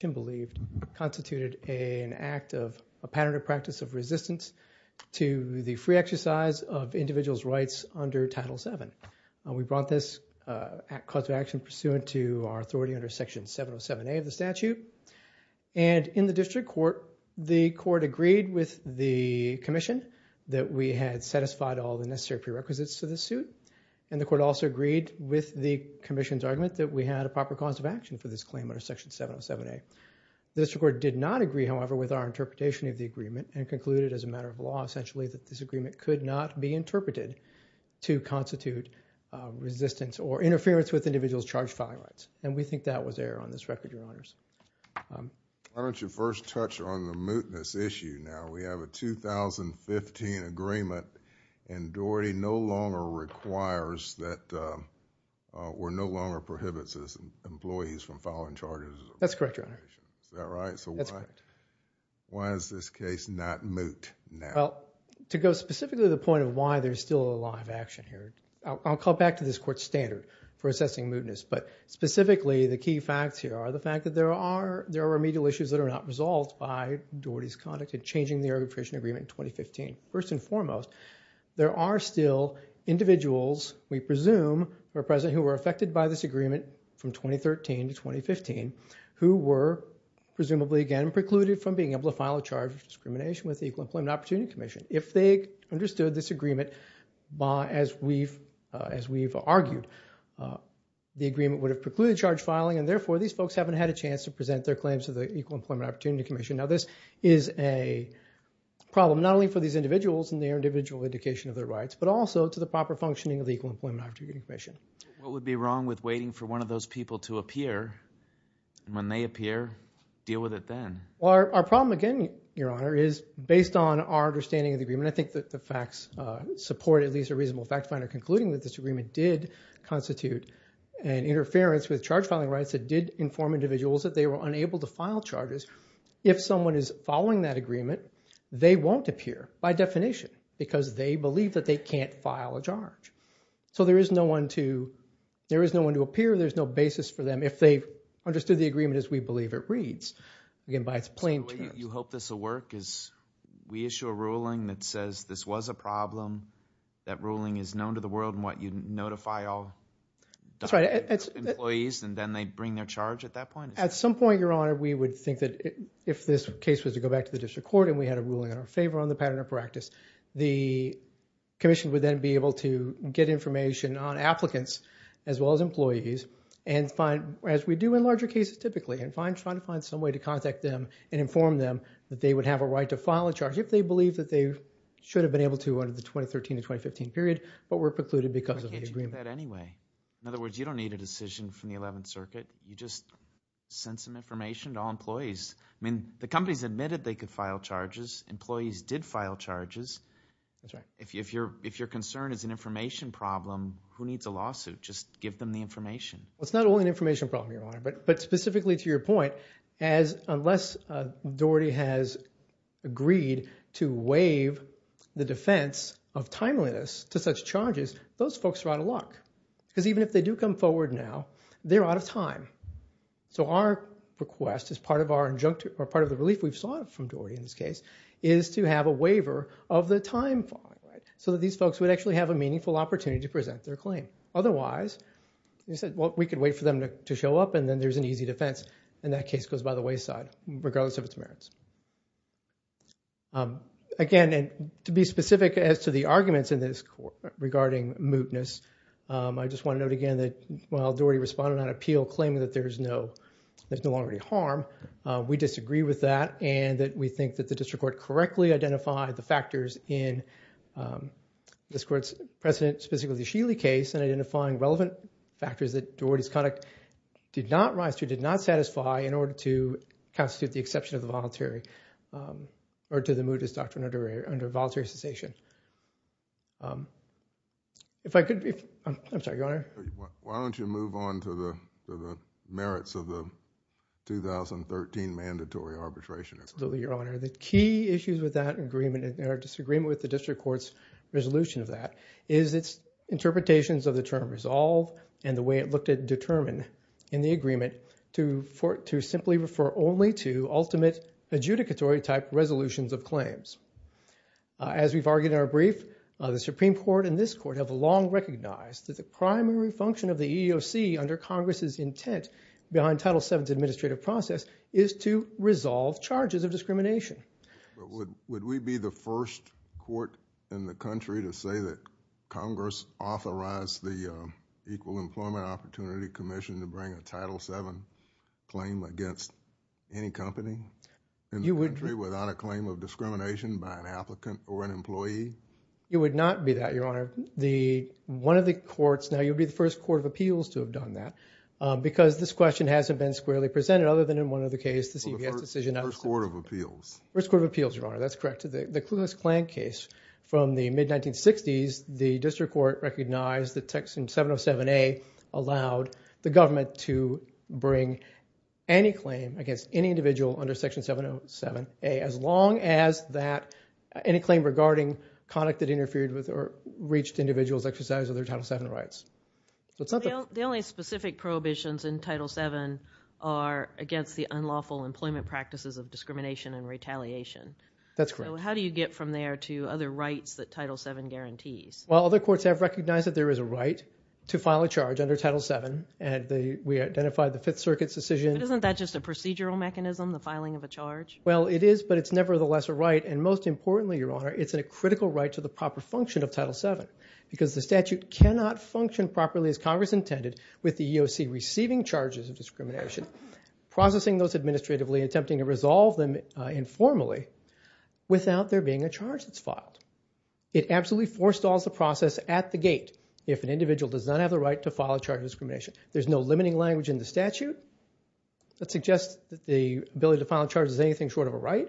...constituted an act of a pattern of practice of resistance to the free exercise of individual's rights under Title VII. We brought this cause of action pursuant to our authority under Section 707A of the statute. And in the District Court, the Court agreed with the Commission that we had satisfied all the necessary prerequisites to this suit. And the Court also agreed with the Commission's argument that we had a proper cause of action for this claim under Section 707A. The District Court did not agree, however, with our interpretation of the agreement and concluded as a matter of law, essentially, that this agreement could not be interpreted to constitute resistance or interference with individual's charged filing rights. And we think that was error on this record, Your Honors. Why don't you first touch on the mootness issue now? We have a 2015 agreement and Doherty no longer requires that or no longer prohibits its employees from filing charges. That's correct, Your Honor. Is that right? That's correct. Why is this case not moot now? Well, to go specifically to the point of why there's still a law of action here, I'll come back to this Court's standard for assessing mootness. But specifically, the key facts here are the fact that there are remedial issues that are not resolved by Doherty's conduct in changing the arbitration agreement in 2015. First and foremost, there are still individuals, we presume, who are present who were affected by this agreement from 2013 to 2015 who were presumably, again, precluded from being able to file a charge of discrimination with the Equal Employment Opportunity Commission. If they understood this agreement as we've argued, the agreement would have precluded charged filing and therefore these folks haven't had a chance to present their claims to the Equal Employment Opportunity Commission. Now this is a problem not only for these individuals and their individual indication of their rights but also to the proper functioning of the Equal Employment Opportunity Commission. What would be wrong with waiting for one of those people to appear and when they appear, deal with it then? Our problem, again, Your Honor, is based on our understanding of the agreement. I think that the facts support at least a reasonable fact finder concluding that this agreement did constitute an interference with charge filing rights. It did inform individuals that they were unable to file charges. If someone is following that agreement, they won't appear by definition because they believe that they can't file a charge. So there is no one to appear. There's no basis for them if they understood the agreement as we believe it reads. Again, by its plain terms. So the way you hope this will work is we issue a ruling that says this was a problem. That ruling is known to the world in what you notify all employees and then they bring their charge at that point? At some point, Your Honor, we would think that if this case was to go back to the district court and we had a ruling in our favor on the pattern of practice, the commission would then be able to get information on applicants as well as employees and find, as we do in larger cases typically, and try to find some way to contact them and inform them that they would have a right to file a charge if they believe that they should have been able to under the 2013-2015 period but were precluded because of the agreement. I can't do that anyway. In other words, you don't need a decision from the 11th Circuit. You just send some information to all employees. I mean, the companies admitted they could file charges. Employees did file charges. That's right. If your concern is an information problem, who needs a lawsuit? Just give them the information. It's not only an information problem, Your Honor, but specifically to your point, unless Doherty has agreed to waive the defense of timeliness to such charges, those folks are out of luck because even if they do come forward now, they're out of time. So our request is part of the relief we've sought from Doherty in this case is to have a waiver of the time fine so that these folks would actually have a meaningful opportunity to present their claim. Otherwise, we could wait for them to show up and then there's an easy defense, and that case goes by the wayside regardless of its merits. Again, and to be specific as to the arguments in this regarding mootness, I just want to note again that while Doherty responded on appeal claiming that there's no longer any harm, we disagree with that and that we think that the district court correctly identified the factors in this court's precedent, specifically the Sheely case, and identifying relevant factors that Doherty's conduct did not rise to, did not satisfy in order to constitute the exception of the mootness doctrine under voluntary cessation. I'm sorry, Your Honor. Why don't you move on to the merits of the 2013 mandatory arbitration? Absolutely, Your Honor. The key issues with that agreement or disagreement with the district court's resolution of that is its interpretations of the term resolve and the way it looked at determine in the agreement to simply refer only to ultimate adjudicatory type resolutions of claims. As we've argued in our brief, the Supreme Court and this court have long recognized that the primary function of the EEOC under Congress's intent behind Title VII's administrative process is to resolve charges of discrimination. Would we be the first court in the country to say that Congress authorized the Equal Employment Opportunity Commission to bring a Title VII claim against any company in the country without a claim of discrimination by an applicant or an employee? It would not be that, Your Honor. One of the courts, now you'd be the first court of appeals to have done that because this question hasn't been squarely presented other than in one of the cases. First court of appeals. First court of appeals, Your Honor, that's correct. The Kluge-Klan case from the mid-1960s, the district court recognized that Section 707A allowed the government to bring any claim against any individual under Section 707A as long as that any claim regarding conduct that interfered with or reached individuals' exercise of their Title VII rights. The only specific prohibitions in Title VII are against the unlawful employment practices of discrimination and retaliation. That's correct. So how do you get from there to other rights that Title VII guarantees? Well, other courts have recognized that there is a right to file a charge under Title VII and we identified the Fifth Circuit's decision. But isn't that just a procedural mechanism, the filing of a charge? Well, it is, but it's nevertheless a right, and most importantly, Your Honor, it's a critical right to the proper function of Title VII because the statute cannot function properly as Congress intended with the EEOC receiving charges of discrimination, processing those administratively, attempting to resolve them informally without there being a charge that's filed. It absolutely forestalls the process at the gate if an individual does not have the right to file a charge of discrimination. There's no limiting language in the statute that suggests that the ability to file a charge is anything short of a right.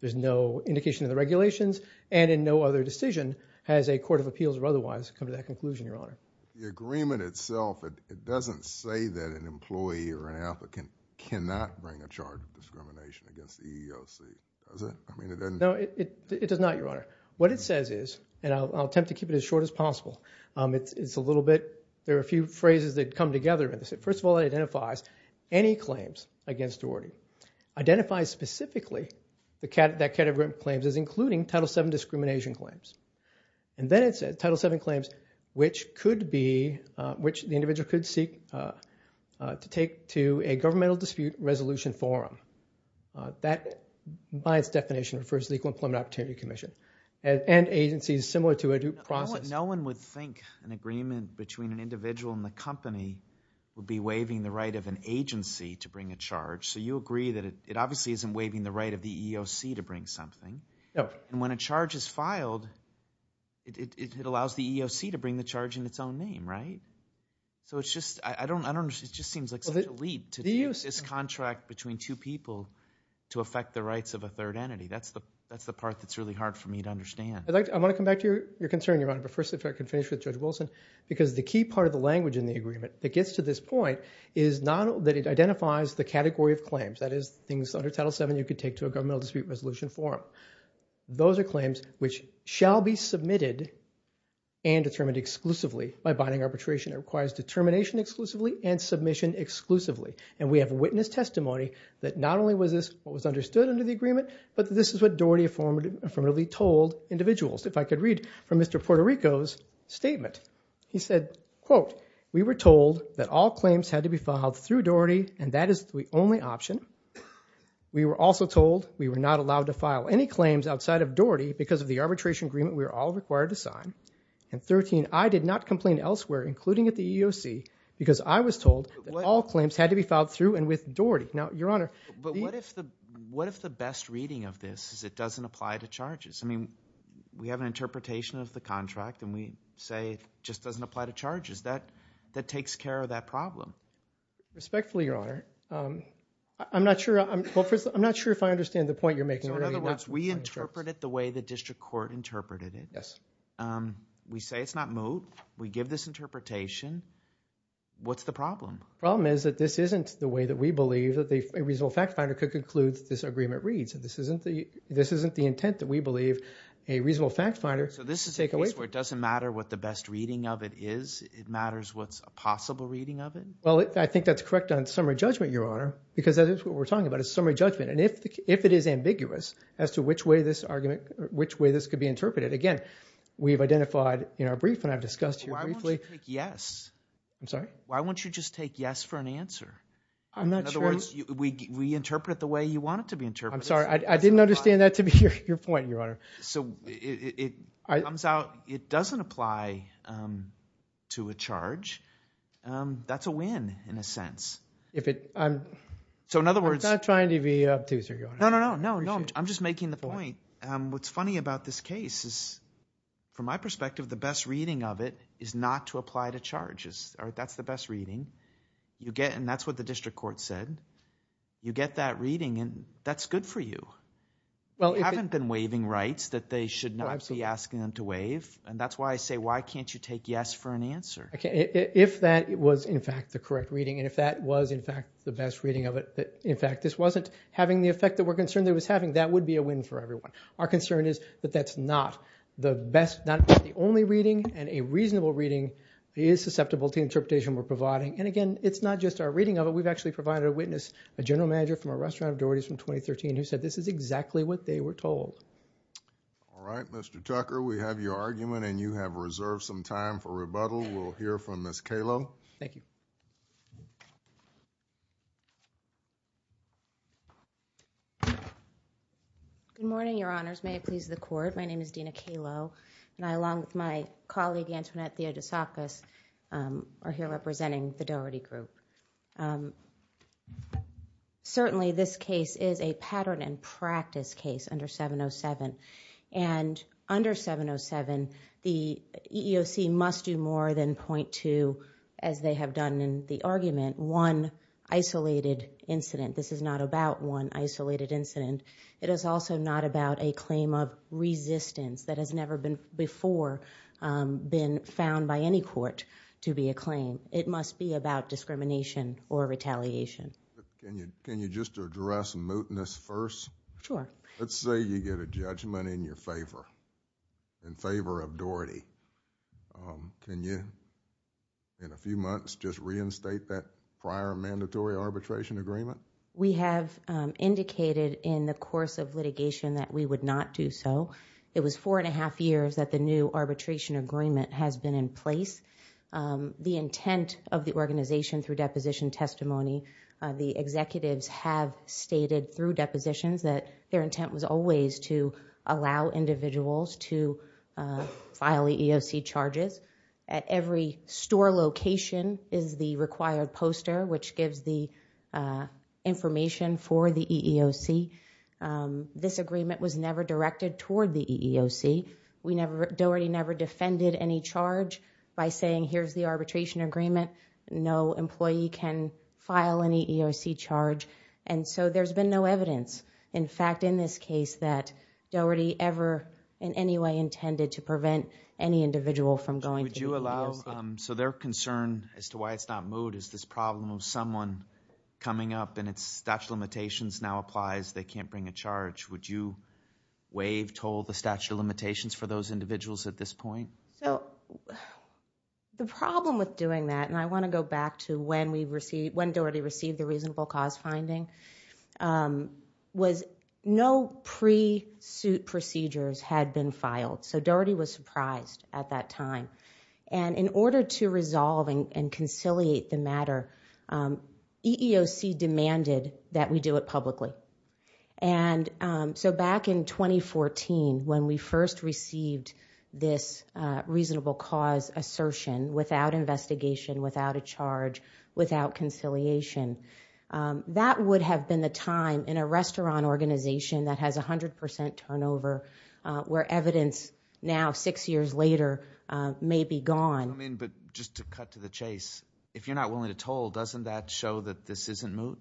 There's no indication in the regulations and in no other decision has a court of appeals or otherwise come to that conclusion, Your Honor. The agreement itself, it doesn't say that an employee or an applicant cannot bring a charge of discrimination against the EEOC, does it? No, it does not, Your Honor. What it says is, and I'll attempt to keep it as short as possible, it's a little bit, there are a few phrases that come together in this. First of all, it identifies any claims against Duarte. It identifies specifically that category of claims as including Title VII discrimination claims. Then it says Title VII claims which could be, which the individual could seek to take to a governmental dispute resolution forum. That, by its definition, refers to the Equal Employment Opportunity Commission and agencies similar to a due process. No one would think an agreement between an individual and the company would be waiving the right of an agency to bring a charge. So you agree that it obviously isn't waiving the right of the EEOC to bring something. And when a charge is filed, it allows the EEOC to bring the charge in its own name, right? So it's just, I don't understand, it just seems like such a lead to take this contract between two people to affect the rights of a third entity. That's the part that's really hard for me to understand. I want to come back to your concern, Your Honor, but first, if I could finish with Judge Wilson, because the key part of the language in the agreement that gets to this point is that it identifies the category of claims, that is, things under Title VII you could take to a governmental dispute resolution forum. Those are claims which shall be submitted and determined exclusively by binding arbitration. It requires determination exclusively and submission exclusively. And we have witness testimony that not only was this what was understood under the agreement, but this is what Doherty affirmatively told individuals. If I could read from Mr. Puerto Rico's statement. He said, quote, We were told that all claims had to be filed through Doherty, and that is the only option. We were also told we were not allowed to file any claims outside of Doherty because of the arbitration agreement we were all required to sign. And, 13, I did not complain elsewhere, including at the EEOC, because I was told that all claims had to be filed through and with Doherty. Now, Your Honor... But what if the best reading of this is it doesn't apply to charges? I mean, we have an interpretation of the contract, and we say it just doesn't apply to charges. That takes care of that problem. Respectfully, Your Honor, I'm not sure if I understand the point you're making. In other words, we interpret it the way the district court interpreted it. Yes. We say it's not moot. We give this interpretation. What's the problem? The problem is that this isn't the way that we believe that a reasonable fact finder could conclude this agreement reads. This isn't the intent that we believe a reasonable fact finder could take away from it. So this is a case where it doesn't matter what the best reading of it is, it matters what's a possible reading of it? Well, I think that's correct on summary judgment, Your Honor, because that is what we're talking about is summary judgment. And if it is ambiguous as to which way this could be interpreted, again, we've identified in our brief, and I've discussed here briefly... Why won't you take yes? I'm sorry? Why won't you just take yes for an answer? I'm not sure... In other words, we interpret it the way you want it to be interpreted. I'm sorry. I didn't understand that to be your point, Your Honor. So it comes out, it doesn't apply to a charge. That's a win in a sense. So in other words... I'm not trying to be obtuse, Your Honor. No, no, no. I'm just making the point. What's funny about this case is from my perspective, the best reading of it is not to apply to charges. That's the best reading. And that's what the district court said. You get that reading, and that's good for you. You haven't been waiving rights that they should not be asking them to waive, and that's why I say, why can't you take yes for an answer? If that was, in fact, the correct reading, and if that was, in fact, the best reading of it, that, in fact, this wasn't having the effect that we're concerned it was having, that would be a win for everyone. Our concern is that that's not the best, not the only reading, and a reasonable reading is susceptible to interpretation we're providing. And, again, it's not just our reading of it. We've actually provided a witness, a general manager from a restaurant of Doherty's from 2013, who said this is exactly what they were told. All right. Mr. Tucker, we have your argument, and you have reserved some time for rebuttal. We'll hear from Ms. Calo. Thank you. Good morning, Your Honors. May it please the Court. My name is Dina Calo, and I, along with my colleague, Antoinette Theodosakis, are here representing the Doherty Group. Certainly, this case is a pattern and practice case under 707. And under 707, the EEOC must do more than point to, as they have done in the argument, one isolated incident. This is not about one isolated incident. It is also not about a claim of resistance that has never before been found by any court to be a claim. It must be about discrimination or retaliation. Can you just address mootness first? Sure. Let's say you get a judgment in your favor, in favor of Doherty. Can you, in a few months, just reinstate that prior mandatory arbitration agreement? We have indicated in the course of litigation that we would not do so. It was four and a half years that the new arbitration agreement has been in place. The intent of the organization through deposition testimony, the executives have stated through depositions that their intent was always to allow individuals to file EEOC charges. At every store location is the required poster, which gives the information for the EEOC. This agreement was never directed toward the EEOC. Doherty never defended any charge by saying, here's the arbitration agreement. No employee can file any EEOC charge. There's been no evidence, in fact, in this case, that Doherty ever in any way intended to prevent any individual from going to the EEOC. Their concern as to why it's not moot is this problem of someone coming up and its statute of limitations now applies, they can't bring a charge. Would you waive toll the statute of limitations for those individuals at this point? The problem with doing that, and I want to go back to when Doherty received the reasonable cause finding, was no pre-suit procedures had been filed. Doherty was surprised at that time. In order to resolve and conciliate the matter, EEOC demanded that we do it publicly. Back in 2014, when we first received this reasonable cause assertion, without investigation, without a charge, without conciliation, that would have been the time in a restaurant organization that has 100% turnover, where evidence now, six years later, may be gone. Just to cut to the chase, if you're not willing to toll, doesn't that show that this isn't moot?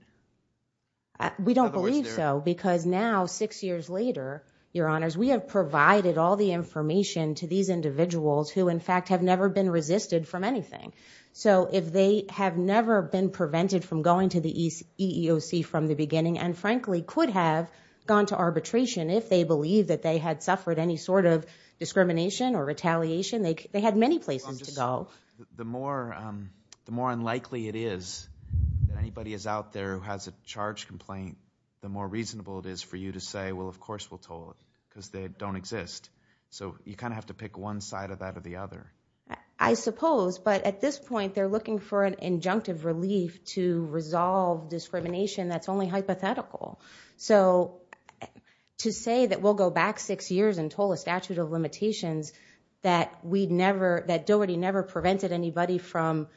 We don't believe so because now, six years later, we have provided all the information to these individuals who in fact have never been resisted from anything. If they have never been prevented from going to the EEOC from the beginning and frankly could have gone to arbitration if they believed that they had suffered any sort of discrimination or retaliation, they had many places to go. The more unlikely it is that anybody is out there who has a charge complaint, the more reasonable it is for you to say, of course we'll toll it because they don't exist. You have to pick one side of that or the other. I suppose, but at this point, they're looking for an injunctive relief to resolve discrimination that's only hypothetical. that Doherty never prevented anybody from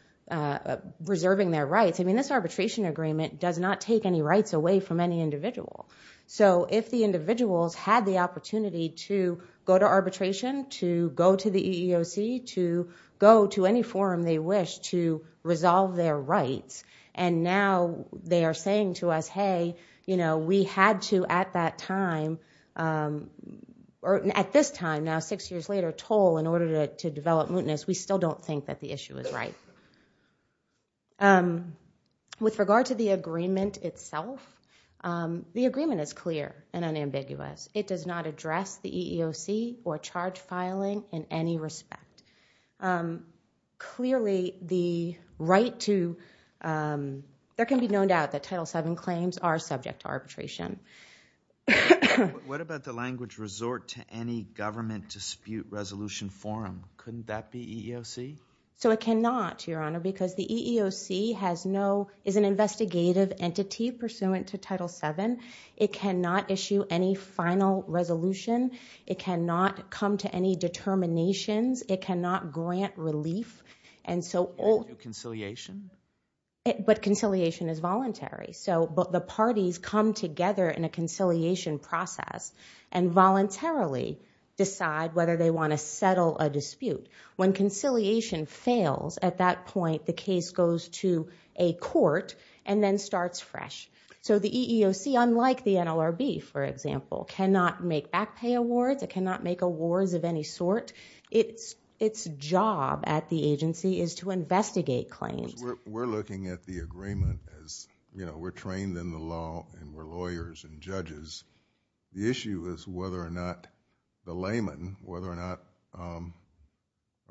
reserving their rights. This arbitration agreement does not take any rights away from any individual. If the individuals had the opportunity to go to arbitration, to go to the EEOC, to go to any forum they wish to resolve their rights, and now they are saying to us, we had to at that time, or at this time, now six years later, toll in order to develop mootness, we still don't think that the issue is right. With regard to the agreement itself, the agreement is clear and unambiguous. It does not address the EEOC or charge filing in any respect. Clearly, there can be no doubt that Title VII claims are subject to arbitration. What about the language, resort to any government dispute resolution forum? Couldn't that be EEOC? It cannot, Your Honor, because the EEOC is an investigative entity pursuant to Title VII. It cannot issue any final resolution. It cannot come to any determinations. It cannot grant relief. Can it do conciliation? But conciliation is voluntary. The parties come together in a conciliation process and voluntarily decide whether they want to settle a dispute. When conciliation fails, at that point, the case goes to a court and then starts fresh. The EEOC, unlike the NLRB, for example, cannot make back pay awards. It cannot make awards of any sort. Its job at the agency is to investigate claims. We're looking at the agreement as we're trained in the law and we're lawyers and judges. The issue is whether or not the layman, whether or not a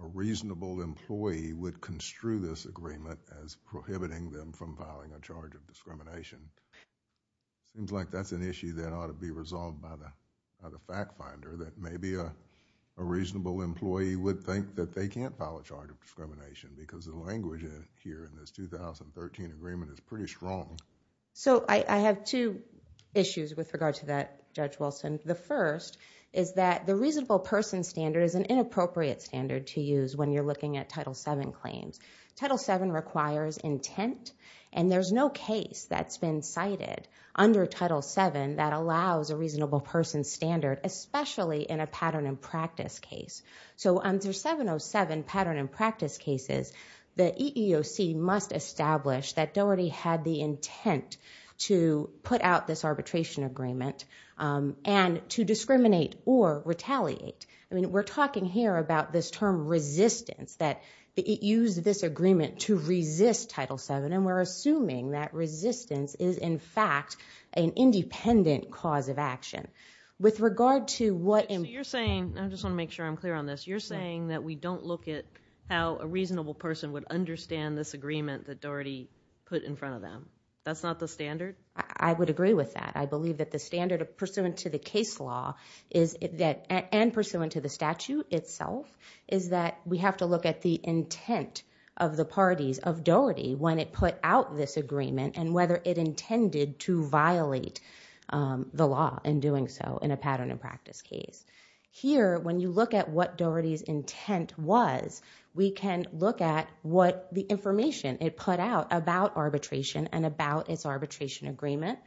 reasonable employee would construe this agreement as prohibiting them from filing a charge of discrimination. It seems like that's an issue that ought to be resolved by the fact finder that maybe a reasonable employee would think that they can't file a charge of discrimination because the language here in this 2013 agreement is pretty strong. I have two issues with regard to that, Judge Wilson. The first is that the reasonable person standard is an inappropriate standard to use when you're looking at Title VII claims. Title VII requires intent and there's no case that's been cited under Title VII that allows a reasonable person standard, especially in a pattern and practice case. Under 707 pattern and practice cases, the EEOC must establish that they already had the intent to put out this arbitration agreement and to discriminate or retaliate. We're talking here about this term resistance, that it used this agreement to resist Title VII and we're assuming that resistance is, in fact, an independent cause of action. With regard to what... You're saying, I just want to make sure I'm clear on this, you're saying that we don't look at how a reasonable person would understand this agreement that Doherty put in front of them. That's not the standard? I would agree with that. I believe that the standard pursuant to the case law and pursuant to the statute itself is that we have to look at the intent of the parties of Doherty when it put out this agreement and whether it intended to violate the law in doing so in a pattern and practice case. Here, when you look at what Doherty's intent was, we can look at what the information it put out about arbitration and about its arbitration agreement.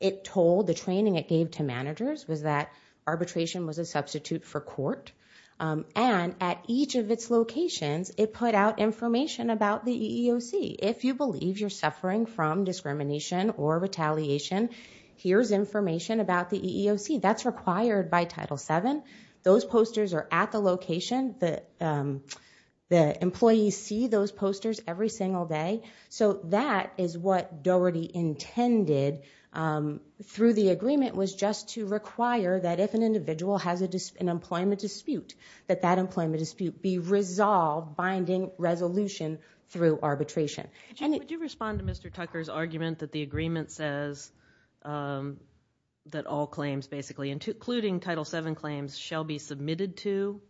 It told... The training it gave to managers was that arbitration was a substitute for court. And at each of its locations, it put out information about the EEOC. If you believe you're suffering from discrimination or retaliation, here's information about the EEOC. That's required by Title VII. Those posters are at the location. The employees see those posters every single day. So that is what Doherty intended through the agreement was just to require that if an individual has an employment dispute, that that employment dispute be resolved, binding resolution through arbitration. Would you respond to Mr. Tucker's argument that the agreement says that all claims, basically, including Title VII claims, shall be submitted to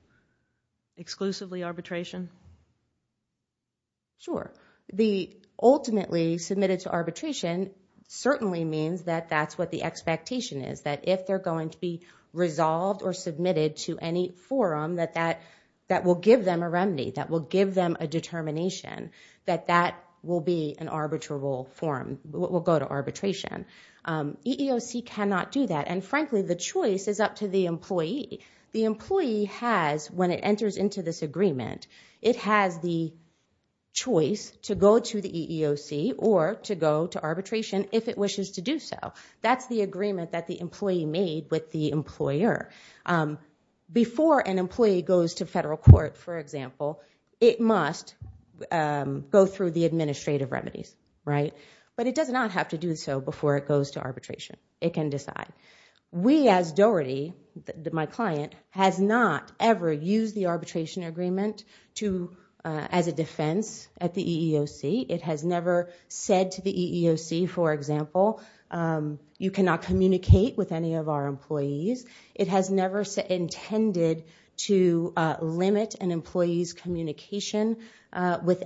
exclusively arbitration? Sure. The ultimately submitted to arbitration certainly means that that's what the expectation is, that if they're going to be resolved or submitted to any forum, that that will give them a remedy, that will give them a determination that that will be an arbitrable forum, will go to arbitration. EEOC cannot do that. And frankly, the choice is up to the employee. The employee has, when it enters into this agreement, it has the choice to go to the EEOC or to go to arbitration if it wishes to do so. That's the agreement that the employee made with the employer. Before an employee goes to federal court, for example, it must go through the administrative remedies, right? But it does not have to do so before it goes to arbitration. It can decide. We, as Doherty, my client, has not ever used the arbitration agreement as a defense at the EEOC. It has never said to the EEOC, for example, you cannot communicate with any of our employees. It has never intended to limit an employee's communication with the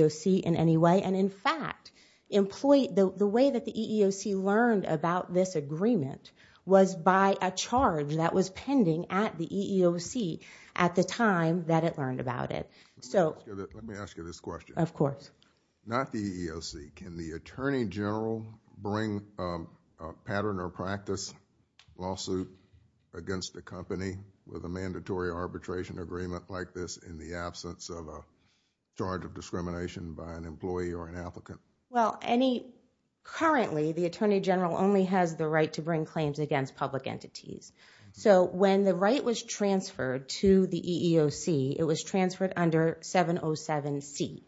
EEOC in any way. And in fact, the way that the EEOC learned about this agreement was by a charge that was pending at the EEOC at the time that it learned about it. Let me ask you this question. Of course. Not the EEOC. Can the attorney general bring a pattern or practice lawsuit against the company with a mandatory arbitration agreement like this in the absence of a charge of discrimination by an employee or an applicant? Well, currently, the attorney general only has the right to bring claims against public entities. So when the right was transferred to the EEOC, it was transferred under 707C.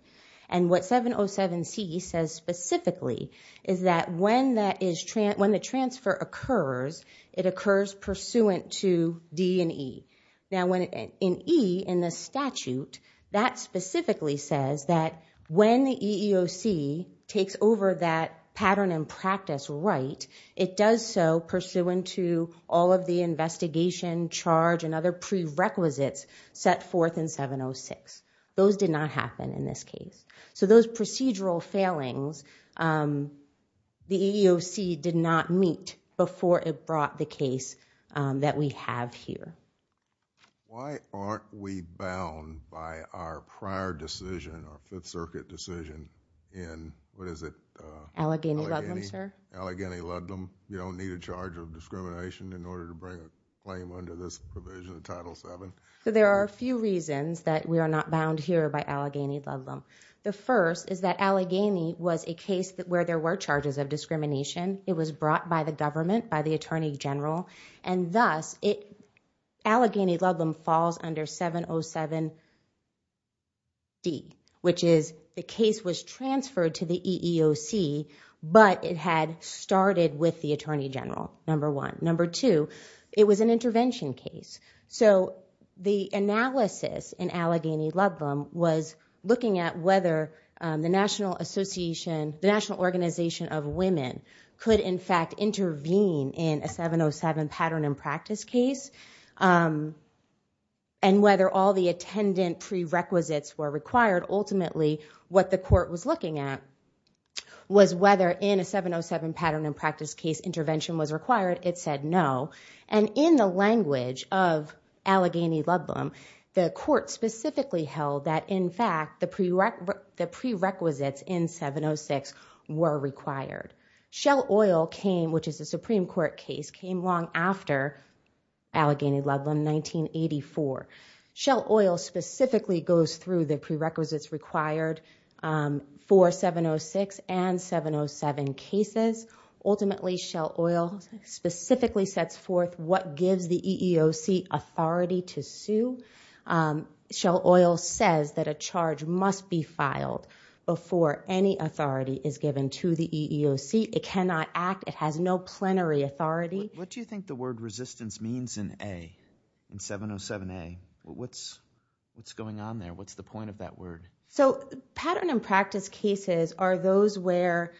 And what 707C says specifically is that when the transfer occurs, it occurs pursuant to D and E. Now, in E, in the statute, that specifically says that when the EEOC takes over that pattern and practice right, it does so pursuant to all of the investigation, charge, and other prerequisites set forth in 706. Those did not happen in this case. So those procedural failings, the EEOC did not meet before it brought the case that we have here. Why aren't we bound by our prior decision, our Fifth Circuit decision in, what is it? Allegheny-Ludlam, sir. Allegheny-Ludlam. You don't need a charge of discrimination in order to bring a claim under this provision, Title VII. So there are a few reasons that we are not bound here by Allegheny-Ludlam. The first is that Allegheny was a case where there were charges of discrimination. It was brought by the government, by the Attorney General. And thus, Allegheny-Ludlam falls under 707D, which is the case was transferred to the EEOC, but it had started with the Attorney General, number one. Number two, it was an intervention case. So the analysis in Allegheny-Ludlam was looking at whether the National Association, the National Organization of Women, could in fact intervene in a 707 pattern and practice case and whether all the attendant prerequisites were required. Ultimately, what the court was looking at was whether in a 707 pattern and practice case intervention was required. It said no. And in the language of Allegheny-Ludlam, the court specifically held that, in fact, the prerequisites in 706 were required. Shell Oil came, which is a Supreme Court case, came long after Allegheny-Ludlam, 1984. Shell Oil specifically goes through the prerequisites required for 706 and 707 cases. Ultimately, Shell Oil specifically sets forth what gives the EEOC authority to sue. Shell Oil says that a charge must be filed before any authority is given to the EEOC. It cannot act. It has no plenary authority. What do you think the word resistance means in A, in 707A? What's going on there? What's the point of that word? So pattern and practice cases are those where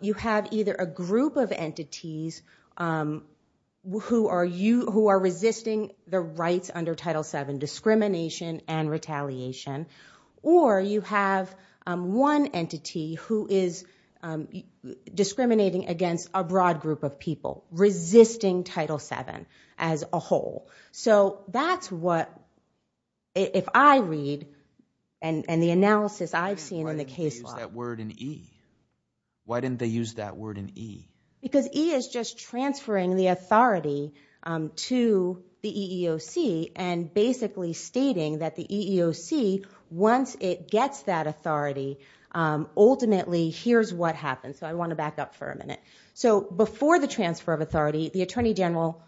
you have either a group of entities who are resisting the rights under Title VII, discrimination and retaliation, or you have one entity who is discriminating against a broad group of people, resisting Title VII as a whole. So that's what, if I read, and the analysis I've seen in the case law... Why didn't they use that word in E? Why didn't they use that word in E? Because E is just transferring the authority to the EEOC and basically stating that the EEOC, once it gets that authority, ultimately, here's what happens. So I want to back up for a minute. So before the transfer of authority, the Attorney General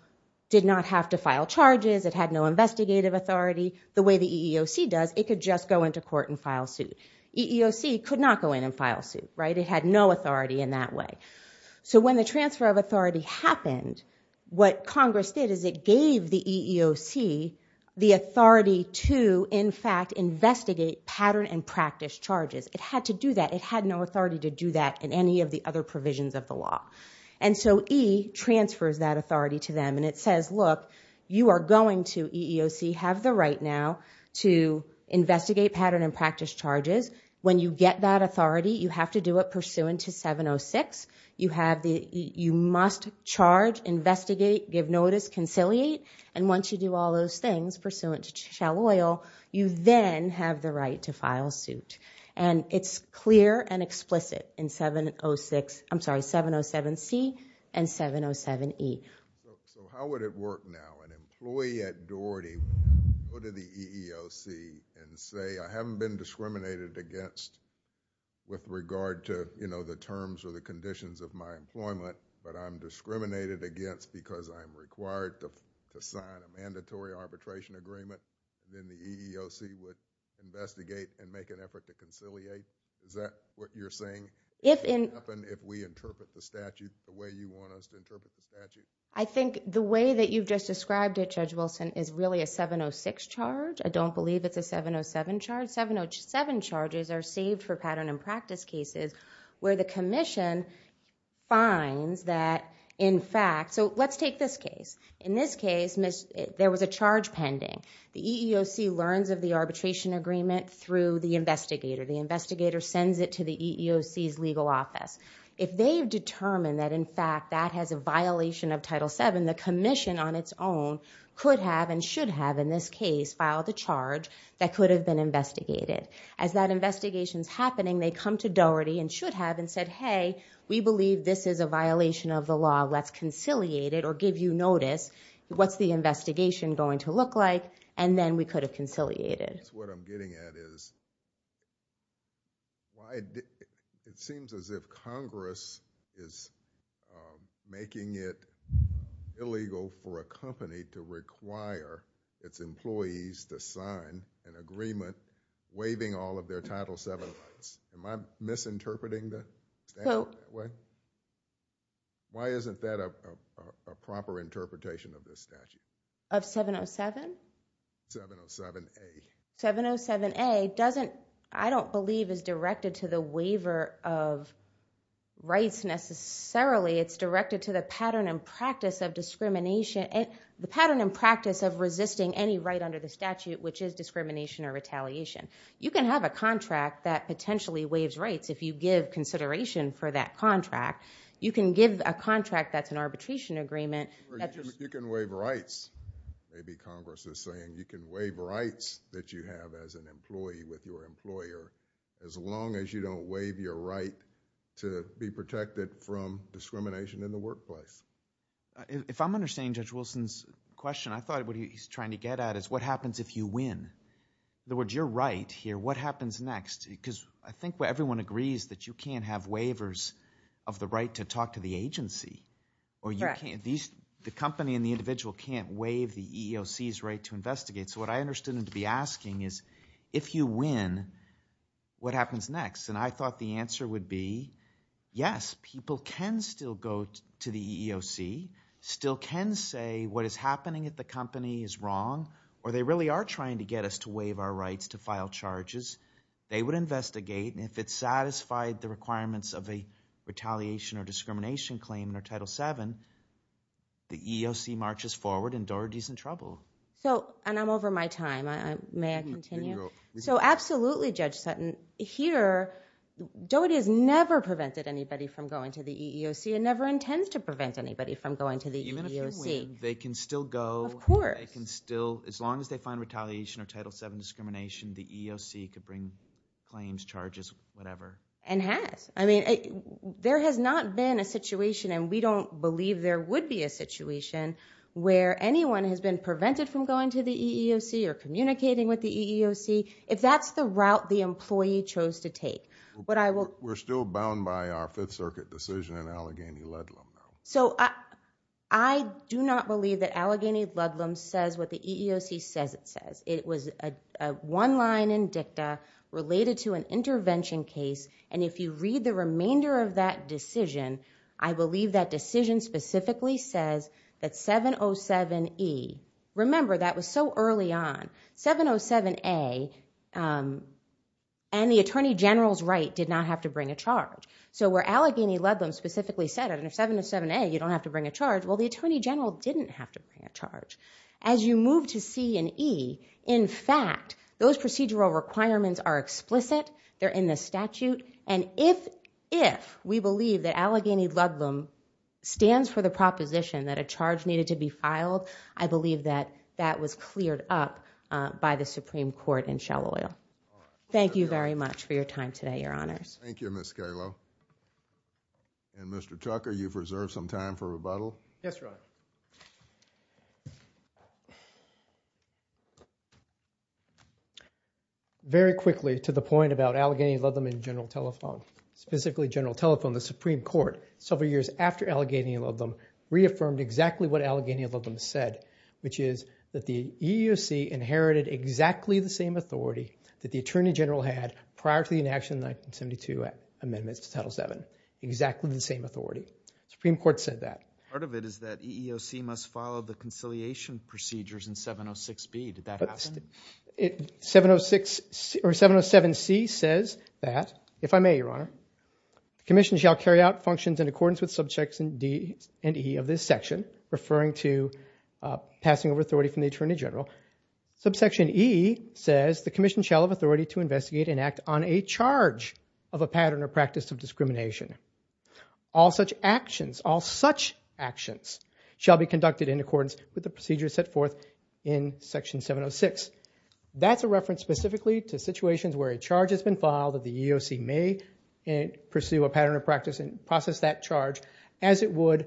did not have to file charges. It had no investigative authority. The way the EEOC does, it could just go into court and file suit. EEOC could not go in and file suit, right? It had no authority in that way. So when the transfer of authority happened, what Congress did is it gave the EEOC the authority to, in fact, investigate pattern and practice charges. It had to do that. It had no authority to do that in any of the other provisions of the law. And so E transfers that authority to them, and it says, look, you are going to, EEOC, have the right now to investigate pattern and practice charges. When you get that authority, you have to do it pursuant to 706. You have the, you must charge, investigate, give notice, conciliate, and once you do all those things, pursuant to shall oil, you then have the right to file suit. And it's clear and explicit in 706, I'm sorry, 707C and 707E. So how would it work now? An employee at Doherty would go to the EEOC and say, I haven't been discriminated against with regard to, you know, the terms or the conditions of my employment, but I'm discriminated against because I'm required to sign a mandatory arbitration agreement. Then the EEOC would investigate and make an effort to conciliate. Is that what you're saying? If we interpret the statute the way you want us to interpret the statute? I think the way that you've just described it, Judge Wilson, is really a 706 charge. I don't believe it's a 707 charge. 707 charges are saved for pattern and practice cases where the commission finds that, in fact, so let's take this case. In this case, there was a charge pending. The EEOC learns of the arbitration agreement through the investigator. The investigator sends it to the EEOC's legal office. If they've determined that, in fact, that has a violation of Title VII, the commission on its own could have and should have, in this case, filed a charge that could have been investigated. As that investigation's happening, they come to Doherty and should have and said, hey, we believe this is a violation of the law. Let's conciliate it or give you notice. What's the investigation going to look like? And then we could have conciliated. That's what I'm getting at is... It seems as if Congress is making it illegal for a company to require its employees to sign an agreement waiving all of their Title VII rights. Am I misinterpreting the statute that way? Why isn't that a proper interpretation of this statute? Of 707? 707A. 707A doesn't... I don't believe it's directed to the waiver of rights necessarily. It's directed to the pattern and practice of discrimination... The pattern and practice of resisting any right under the statute, which is discrimination or retaliation. You can have a contract that potentially waives rights if you give consideration for that contract. You can give a contract that's an arbitration agreement... You can waive rights. Maybe Congress is saying you can waive rights that you have as an employee with your employer as long as you don't waive your right to be protected from discrimination in the workplace. If I'm understanding Judge Wilson's question, I thought what he's trying to get at is what happens if you win? In other words, you're right here. What happens next? Because I think everyone agrees that you can't have waivers of the right to talk to the agency. The company and the individual can't waive the EEOC's right to investigate. So what I understood him to be asking is, if you win, what happens next? And I thought the answer would be, yes, people can still go to the EEOC, still can say what is happening at the company is wrong, or they really are trying to get us to waive our rights to file charges. They would investigate. And if it satisfied the requirements of a retaliation or discrimination claim under Title VII, the EEOC marches forward and Doherty's in trouble. And I'm over my time. May I continue? So absolutely, Judge Sutton. Here, Doherty has never prevented anybody from going to the EEOC and never intends to prevent anybody from going to the EEOC. Even if they win, they can still go. Of course. As long as they find retaliation or Title VII discrimination, the EEOC could bring claims, charges, whatever. And has. I mean, there has not been a situation, and we don't believe there would be a situation, where anyone has been prevented from going to the EEOC or communicating with the EEOC, if that's the route the employee chose to take. We're still bound by our Fifth Circuit decision in Allegheny-Ludlam. So I do not believe that Allegheny-Ludlam says what the EEOC says it says. It was one line in dicta related to an intervention case. And if you read the remainder of that decision, I believe that decision specifically says that 707E, remember that was so early on, 707A and the Attorney General's right did not have to bring a charge. So where Allegheny-Ludlam specifically said it, and if 707A you don't have to bring a charge, well, the Attorney General didn't have to bring a charge. As you move to C and E, in fact, those procedural requirements are explicit, they're in the statute, and if we believe that Allegheny-Ludlam stands for the proposition that a charge needed to be filed, I believe that that was cleared up by the Supreme Court in Shell Oil. Thank you very much for your time today, Your Honors. Thank you, Ms. Calo. And Mr. Tucker, you've reserved some time for rebuttal. Yes, Your Honor. Very quickly, to the point about Allegheny-Ludlam and General Telephone, specifically General Telephone, the Supreme Court, several years after Allegheny-Ludlam, reaffirmed exactly what Allegheny-Ludlam said, which is that the EEOC inherited exactly the same authority that the Attorney General had prior to the enaction of the 1972 amendments to Title VII, exactly the same authority. The Supreme Court said that. Part of it is that EEOC must follow the conciliation procedures in 706B. Did that happen? 706 or 707C says that, if I may, Your Honor, the Commission shall carry out functions in accordance with Subsections D and E of this section, referring to passing over authority from the Attorney General. Subsection E says the Commission shall have authority to investigate and act on a charge of a pattern or practice of discrimination. All such actions shall be conducted in accordance with the procedures set forth in Section 706. That's a reference specifically to situations where a charge has been filed that the EEOC may pursue a pattern of practice and process that charge as it would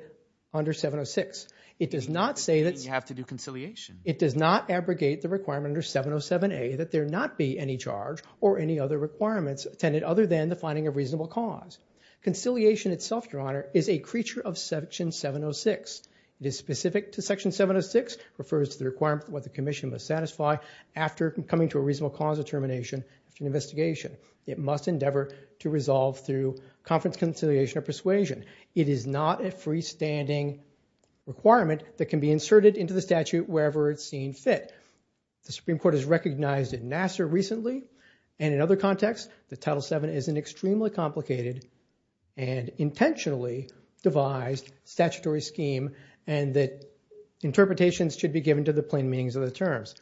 under 706. It does not say that... You have to do conciliation. It does not abrogate the requirement under 707A that there not be any charge or any other requirements attended other than the finding of reasonable cause. Conciliation itself, Your Honor, is a creature of Section 706. It is specific to Section 706, refers to the requirement of what the Commission must satisfy after coming to a reasonable cause of termination after an investigation. It must endeavor to resolve through conference conciliation or persuasion. It is not a freestanding requirement that can be inserted into the statute wherever it's seen fit. The Supreme Court has recognized in Nassar recently and in other contexts that Title VII is an extremely complicated and intentionally devised statutory scheme and that interpretations should be given to the plain meanings of the terms.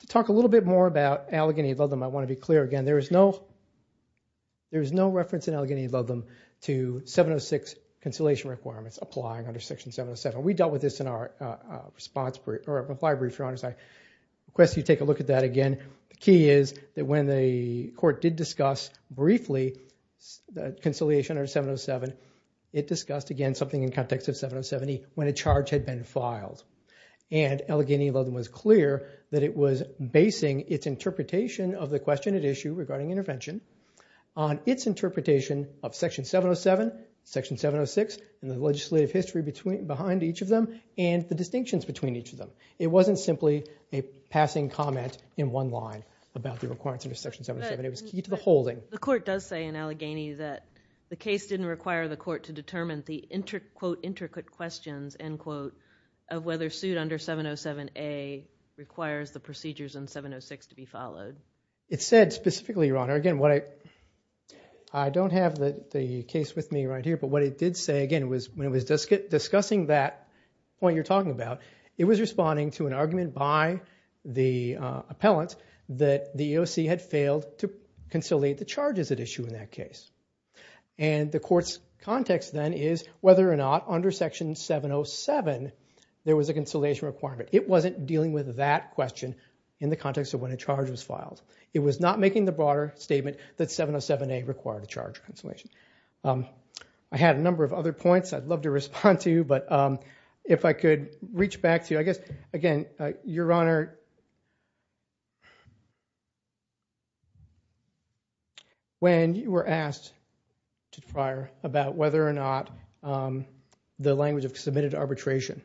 To talk a little bit more about Allegheny v. Ludlam, I want to be clear again. There is no reference in Allegheny v. Ludlam to 706 conciliation requirements applying under Section 707. We dealt with this in our reply brief, Your Honor. I request you take a look at that again. The key is that when the Court did discuss briefly conciliation under 707, it discussed, again, something in context of 707E when a charge had been filed. And Allegheny v. Ludlam was clear that it was basing its interpretation of the question at issue regarding intervention on its interpretation of Section 707, Section 706, and the legislative history behind each of them and the distinctions between each of them. It wasn't simply a passing comment in one line about the requirements under Section 707. It was key to the holding. The Court does say in Allegheny that the case didn't require the Court to determine the, quote, intricate questions, end quote, of whether suit under 707A requires the procedures in 706 to be followed. It said specifically, Your Honor, again, what I don't have the case with me right here, but what it did say, again, was when it was discussing that point you're talking about, it was responding to an argument by the appellant that the EOC had failed to conciliate the charges at issue in that case. And the Court's context then is whether or not under Section 707 there was a conciliation requirement. It wasn't dealing with that question in the context of when a charge was filed. It was not making the broader statement that 707A required a charge of conciliation. I had a number of other points I'd love to respond to, but if I could reach back to you. I guess, again, Your Honor, Your Honor, when you were asked, prior, about whether or not the language of submitted arbitration,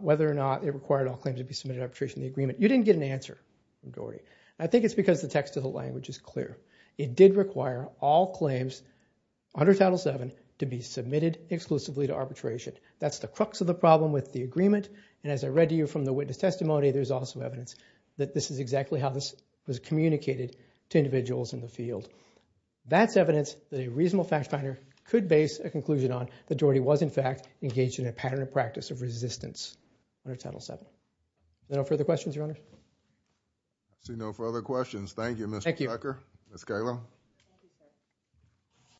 whether or not it required all claims to be submitted to arbitration, the agreement, you didn't get an answer from Doherty. I think it's because the text of the language is clear. It did require all claims under Title VII to be submitted exclusively to arbitration. That's the crux of the problem with the agreement, and as I read to you from the witness testimony, there's also evidence that this is exactly how this was communicated to individuals in the field. That's evidence that a reasonable fact finder could base a conclusion on that Doherty was, in fact, engaged in a pattern of practice of resistance under Title VII. Are there no further questions, Your Honor? I see no further questions. Thank you, Mr. Becker. Thank you. Ms. Kalem.